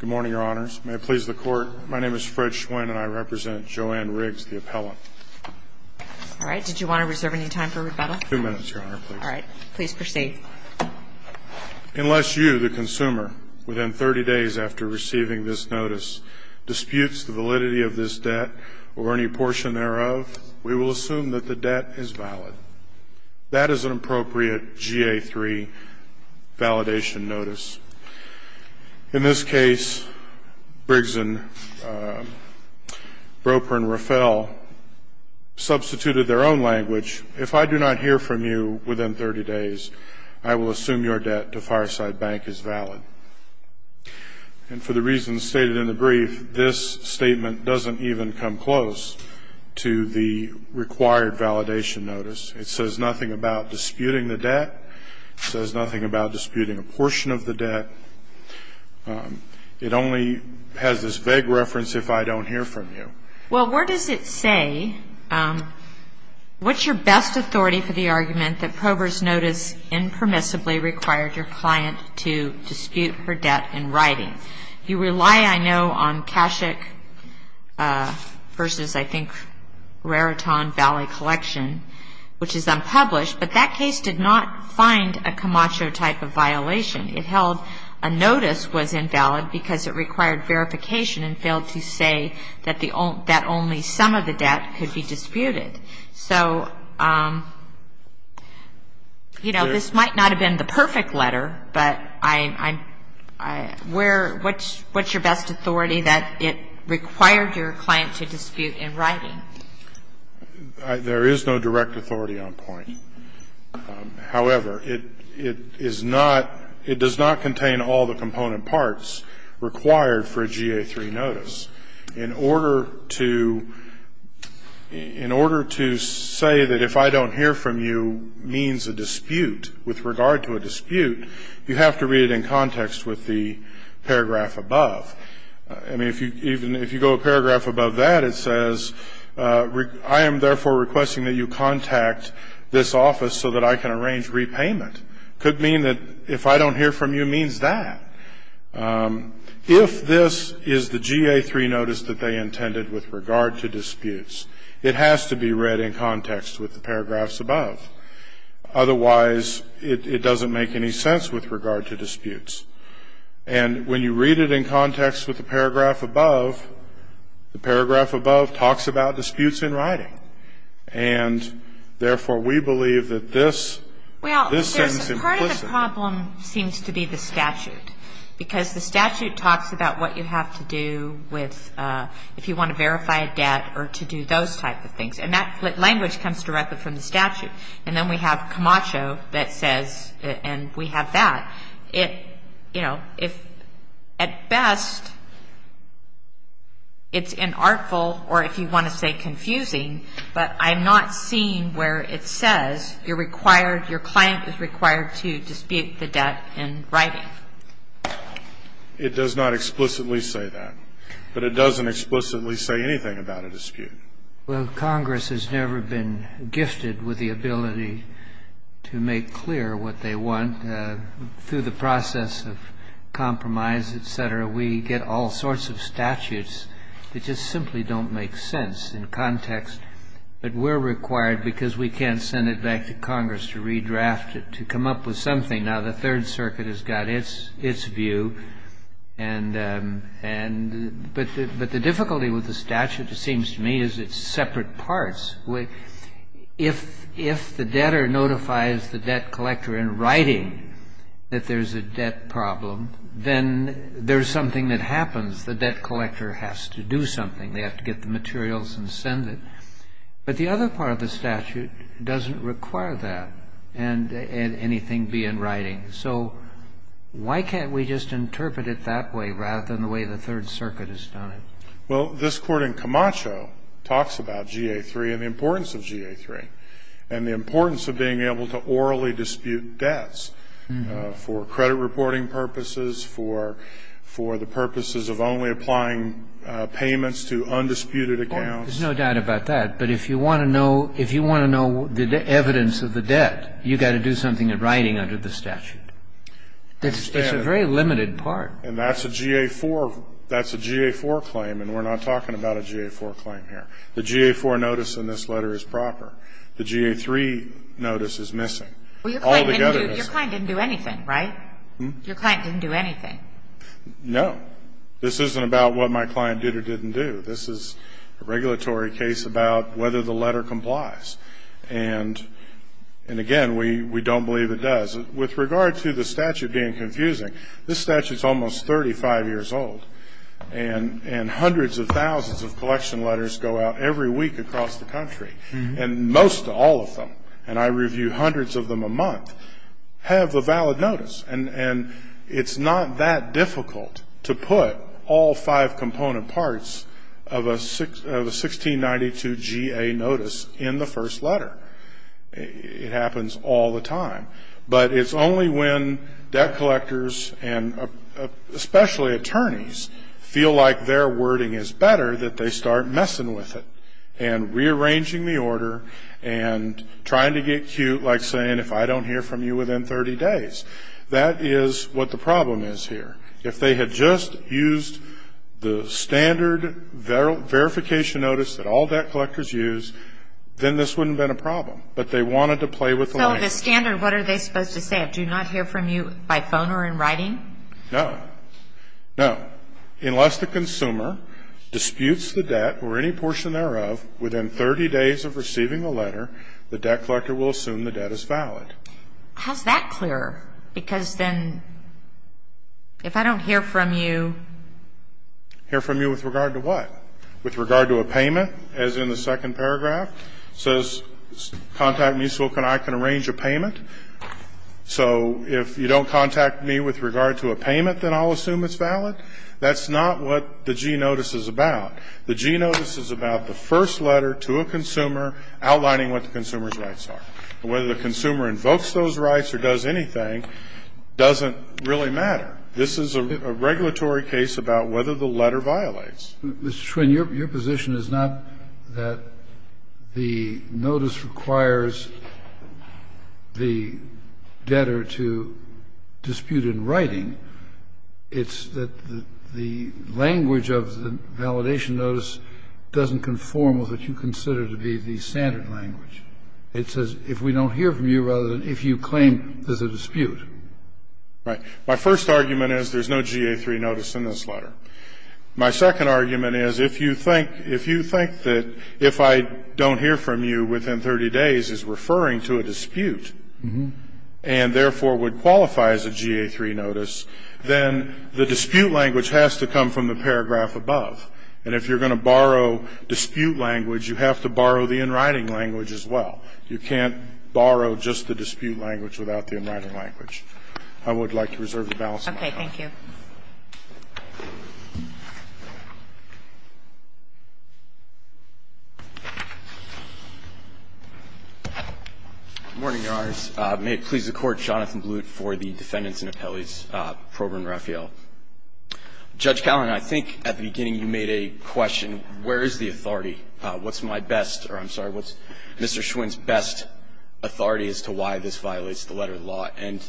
Good morning, Your Honors. May it please the Court, my name is Fred Schwinn and I represent Joann Riggs, the appellant. All right. Did you want to reserve any time for rebuttal? Two minutes, Your Honor, please. All right. Please proceed. Unless you, the consumer, within 30 days after receiving this notice, disputes the validity of this debt or any portion thereof, we will assume that the debt is valid. That is an appropriate GA-3 validation notice. In this case, Riggs and Prober & Raphael substituted their own language, if I do not hear from you within 30 days, I will assume your debt to Fireside Bank is valid. And for the reasons stated in the brief, this statement doesn't even come close to the required validation notice. It says nothing about disputing the debt. It says nothing about disputing a portion of the debt. It only has this vague reference, if I don't hear from you. Well, where does it say, what's your best authority for the argument that Prober's notice impermissibly required your client to dispute her debt in writing? You rely, I know, on Kashuk versus, I think, Raritan Valley Collection, which is unpublished, but that case did not find a Camacho type of violation. It held a notice was invalid because it required verification and failed to say that only some of the debt could be disputed. So, you know, this might not have been the perfect letter, but what's your best authority that it required your client to dispute in writing? There is no direct authority on point. However, it is not, it does not contain all the component parts required for a GA-3 notice. In order to say that if I don't hear from you means a dispute, with regard to a dispute, you have to read it in context with the paragraph above. I mean, if you go a paragraph above that, it says, I am therefore requesting that you contact this office so that I can arrange repayment. It could mean that if I don't hear from you means that. If this is the GA-3 notice that they intended with regard to disputes, it has to be read in context with the paragraphs above. Otherwise, it doesn't make any sense with regard to disputes. And when you read it in context with the paragraph above, the paragraph above talks about disputes in writing. And therefore, we believe that this seems implicit. Well, part of the problem seems to be the statute. Because the statute talks about what you have to do with, if you want to verify a debt or to do those type of things. And that language comes directly from the statute. And then we have Camacho that says, and we have that. It, you know, if at best, it's inartful or if you want to say confusing, but I'm not seeing where it says you're required, your client is required to dispute the debt in writing. It does not explicitly say that. But it doesn't explicitly say anything about a dispute. Well, Congress has never been gifted with the ability to make clear what they want through the process of compromise, et cetera. We get all sorts of statutes that just simply don't make sense in context. But we're required, because we can't send it back to Congress to redraft it, to come up with something. Now, the Third Circuit has got its view. But the difficulty with the statute, it seems to me, is it's separate parts. If the debtor notifies the debt collector in writing that there's a debt problem, then there's something that happens. The debt collector has to do something. They have to get the materials and send it. But the other part of the statute doesn't require that and anything be in writing. So why can't we just interpret it that way rather than the way the Third Circuit has done it? Well, this Court in Camacho talks about GA3 and the importance of GA3 and the importance of being able to orally dispute debts for credit reporting purposes, for the purposes of only applying payments to undisputed accounts. There's no doubt about that. But if you want to know the evidence of the debt, you've got to do something in writing under the statute. It's a very limited part. And that's a GA4 claim, and we're not talking about a GA4 claim here. The GA4 notice in this letter is proper. The GA3 notice is missing. All together it is. Well, your client didn't do anything, right? Your client didn't do anything. No. This isn't about what my client did or didn't do. This is a regulatory case about whether the letter complies. And, again, we don't believe it does. With regard to the statute being confusing, this statute is almost 35 years old, and hundreds of thousands of collection letters go out every week across the country, and most all of them, and I review hundreds of them a month, have a valid notice. And it's not that difficult to put all five component parts of a 1692 GA notice in the first letter. It happens all the time. But it's only when debt collectors and especially attorneys feel like their wording is better that they start messing with it and rearranging the order and trying to get cute like saying if I don't hear from you within 30 days. That is what the problem is here. If they had just used the standard verification notice that all debt collectors use, then this wouldn't have been a problem. But they wanted to play with the language. So the standard, what are they supposed to say? Do not hear from you by phone or in writing? No. No. Unless the consumer disputes the debt or any portion thereof within 30 days of receiving the letter, the debt collector will assume the debt is valid. How is that clear? Because then if I don't hear from you. Hear from you with regard to what? With regard to a payment as in the second paragraph. It says contact me so I can arrange a payment. So if you don't contact me with regard to a payment, then I'll assume it's valid. That's not what the G notice is about. The G notice is about the first letter to a consumer outlining what the consumer's rights are. Whether the consumer invokes those rights or does anything doesn't really matter. This is a regulatory case about whether the letter violates. Mr. Schwinn, your position is not that the notice requires the debtor to dispute in writing. It's that the language of the validation notice doesn't conform with what you consider to be the standard language. It says if we don't hear from you rather than if you claim there's a dispute. Right. My first argument is there's no GA3 notice in this letter. My second argument is if you think that if I don't hear from you within 30 days is referring to a dispute and therefore would qualify as a GA3 notice, then the dispute language has to come from the paragraph above. And if you're going to borrow dispute language, you have to borrow the in writing language as well. You can't borrow just the dispute language without the in writing language. I would like to reserve the balance of my time. Okay. Thank you. Good morning, Your Honors. May it please the Court, Jonathan Blute for the defendants and appellees, Prober and Raphael. Judge Callan, I think at the beginning you made a question, where is the authority? What's my best or I'm sorry, what's Mr. Schwinn's best authority as to why this violates the letter of law? And,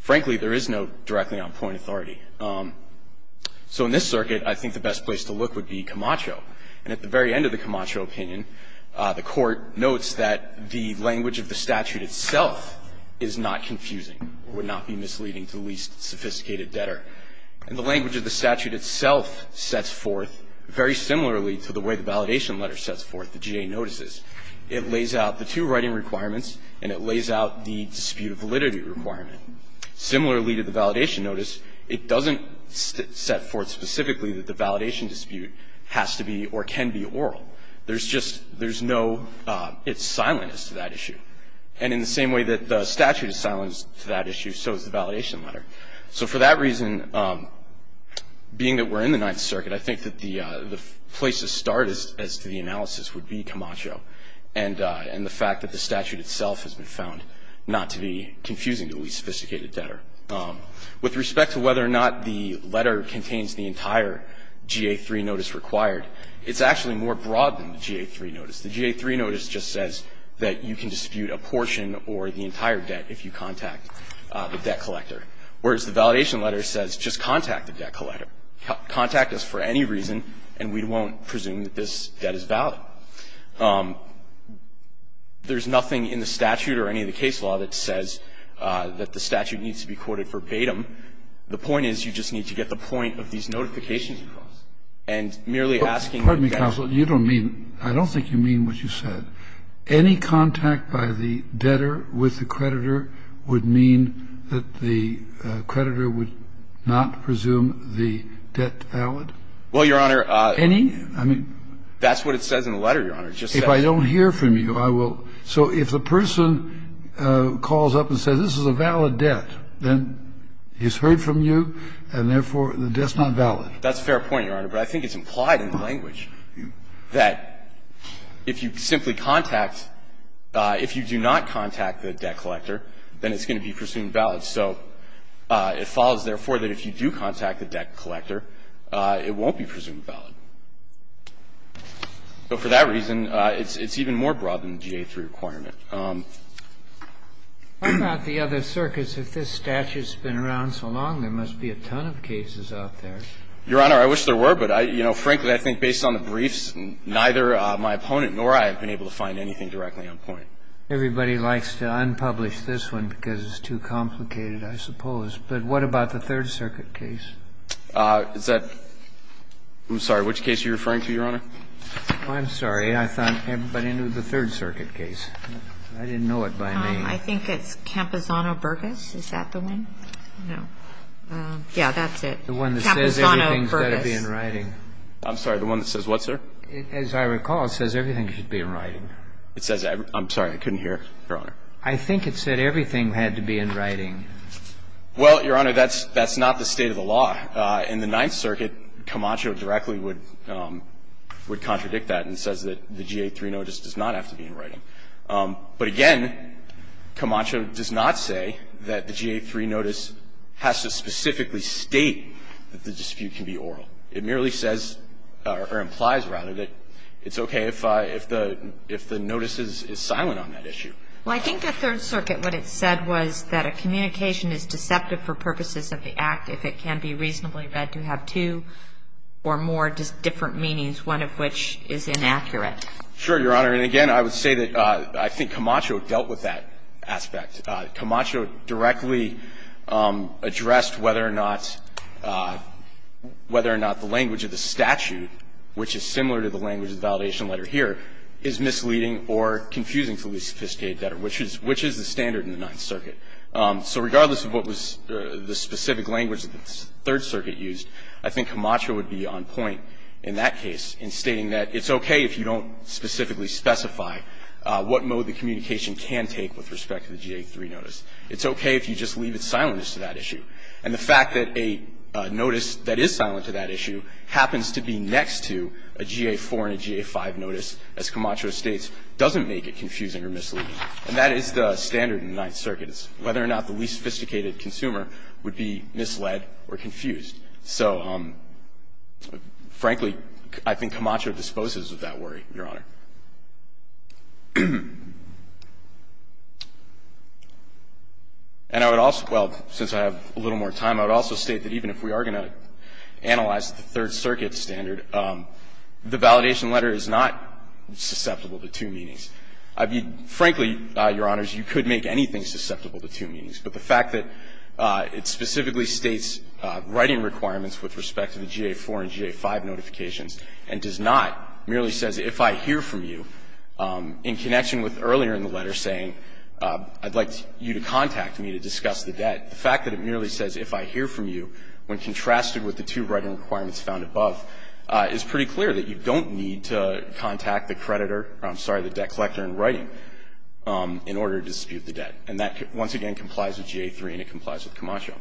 frankly, there is no directly on point authority. So in this circuit, I think the best place to look would be Camacho. And at the very end of the Camacho opinion, the Court notes that the language of the statute itself is not confusing or would not be misleading to the least sophisticated debtor. And the language of the statute itself sets forth, very similarly to the way the validation letter sets forth, the GA notices, it lays out the two writing requirements and it lays out the dispute of validity requirement. Similarly to the validation notice, it doesn't set forth specifically that the validation dispute has to be or can be oral. There's just, there's no, it's silent as to that issue. And in the same way that the statute is silent as to that issue, so is the validation letter. So for that reason, being that we're in the Ninth Circuit, I think that the place to start as to the analysis would be Camacho and the fact that the statute itself has been found not to be confusing to the least sophisticated debtor. With respect to whether or not the letter contains the entire GA-3 notice required, it's actually more broad than the GA-3 notice. The GA-3 notice just says that you can dispute a portion or the entire debt if you contact the debt collector, whereas the validation letter says just contact the debt collector. Contact us for any reason, and we won't presume that this debt is valid. There's nothing in the statute or any of the case law that says that the statute needs to be quoted verbatim. The point is you just need to get the point of these notifications across. And merely asking the debtor to do that. Kennedy, you don't mean, I don't think you mean what you said. Any contact by the debtor with the creditor would mean that the creditor would not presume the debt valid? Well, Your Honor, I mean, that's what it says in the letter, Your Honor. If I don't hear from you, I will. So if the person calls up and says this is a valid debt, then he's heard from you, and therefore the debt's not valid. That's a fair point, Your Honor. But I think it's implied in the language that if you simply contact, if you do not contact the debt collector, then it's going to be presumed valid. So it follows, therefore, that if you do contact the debt collector, it won't be presumed valid. So for that reason, it's even more broad than the GA3 requirement. What about the other circuits? If this statute's been around so long, there must be a ton of cases out there. Your Honor, I wish there were, but, you know, frankly, I think based on the briefs, neither my opponent nor I have been able to find anything directly on point. Everybody likes to unpublish this one because it's too complicated, I suppose. But what about the Third Circuit case? Is that – I'm sorry. Which case are you referring to, Your Honor? I'm sorry. I thought everybody knew the Third Circuit case. I didn't know it by name. I think it's Camposano-Burgess. Is that the one? No. Yeah, that's it. Camposano-Burgess. The one that says everything's got to be in writing. I'm sorry. The one that says what, sir? As I recall, it says everything should be in writing. It says – I'm sorry. I couldn't hear, Your Honor. I think it said everything had to be in writing. Well, Your Honor, that's not the state of the law. In the Ninth Circuit, Camacho directly would contradict that and says that the GA-3 notice does not have to be in writing. But again, Camacho does not say that the GA-3 notice has to specifically state that the dispute can be oral. It merely says or implies, rather, that it's okay if the notice is silent on that issue. Well, I think the Third Circuit, what it said was that a communication is deceptive for purposes of the act if it can be reasonably read to have two or more different meanings, one of which is inaccurate. Sure, Your Honor. And again, I would say that I think Camacho dealt with that aspect. Camacho directly addressed whether or not the language of the statute, which is similar to the language of the validation letter here, is misleading or confusing to the least sophisticated debtor, which is the standard in the Ninth Circuit. So regardless of what was the specific language that the Third Circuit used, I think Camacho would be on point in that case in stating that it's okay if you don't specifically specify what mode the communication can take with respect to the GA-3 notice. It's okay if you just leave it silent as to that issue. And the fact that a notice that is silent to that issue happens to be next to a GA-4 and a GA-5 notice, as Camacho states, doesn't make it confusing or misleading. And that is the standard in the Ninth Circuit. It's whether or not the least sophisticated consumer would be misled or confused. So, frankly, I think Camacho disposes of that worry, Your Honor. And I would also – well, since I have a little more time, I would also state that even if we are going to analyze the Third Circuit standard, the validation letter is not susceptible to two meanings. I mean, frankly, Your Honors, you could make anything susceptible to two meanings, but the fact that it specifically states writing requirements with respect to the GA-4 and GA-5 notifications and does not, merely says, if I hear from you, in connection with earlier in the letter saying, I'd like you to contact me to discuss the debt, the fact that it merely says, if I hear from you, when contrasted with the two writing requirements found above, is pretty clear that you don't need to contact the creditor – I'm sorry, the debt collector in writing in order to dispute the debt. And that, once again, complies with GA-3 and it complies with Camacho.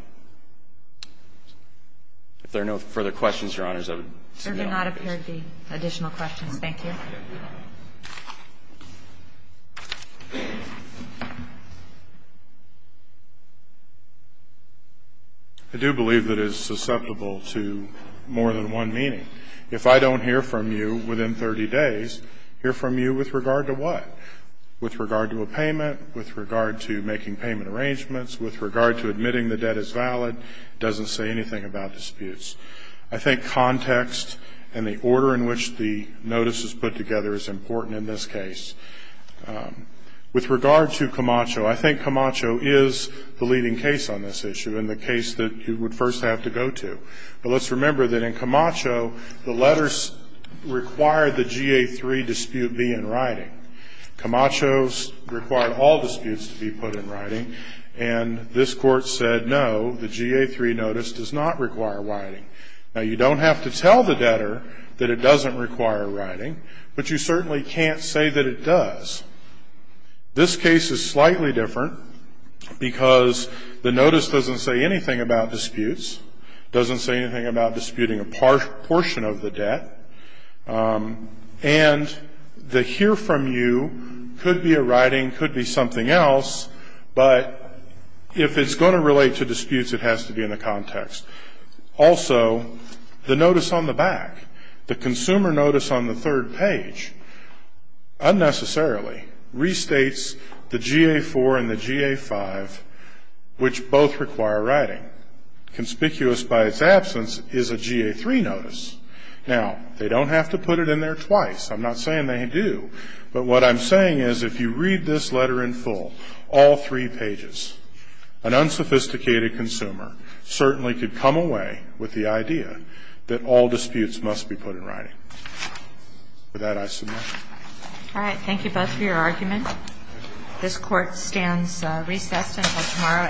If there are no further questions, Your Honors, I would submit all of these. GOTTLIEB. There do not appear to be additional questions. Thank you. MR. MCCACHO. I do believe that it is susceptible to more than one meaning. If I don't hear from you within 30 days, hear from you with regard to what? With regard to a payment? With regard to making payment arrangements? With regard to admitting the debt is valid? It doesn't say anything about disputes. I think context and the order in which the notice is put together is important in this case. With regard to Camacho, I think Camacho is the leading case on this issue and the case that you would first have to go to. But let's remember that in Camacho, the letters require the GA-3 dispute be in writing. Camacho required all disputes to be put in writing, and this Court said no, the GA-3 notice does not require writing. Now, you don't have to tell the debtor that it doesn't require writing, but you certainly can't say that it does. This case is slightly different because the notice doesn't say anything about disputes, doesn't say anything about disputing a portion of the debt, and the hear from you could be a writing, could be something else, but if it's going to relate to disputes, it has to be in the context. Also, the notice on the back, the consumer notice on the third page unnecessarily restates the GA-4 and the GA-5, which both require writing. Conspicuous by its absence is a GA-3 notice. Now, they don't have to put it in there twice. I'm not saying they do. But what I'm saying is if you read this letter in full, all three pages, an unsophisticated consumer certainly could come away with the idea that all disputes must be put in writing. With that, I submit. All right. Thank you both for your argument. This Court stands recessed until tomorrow at 9 o'clock.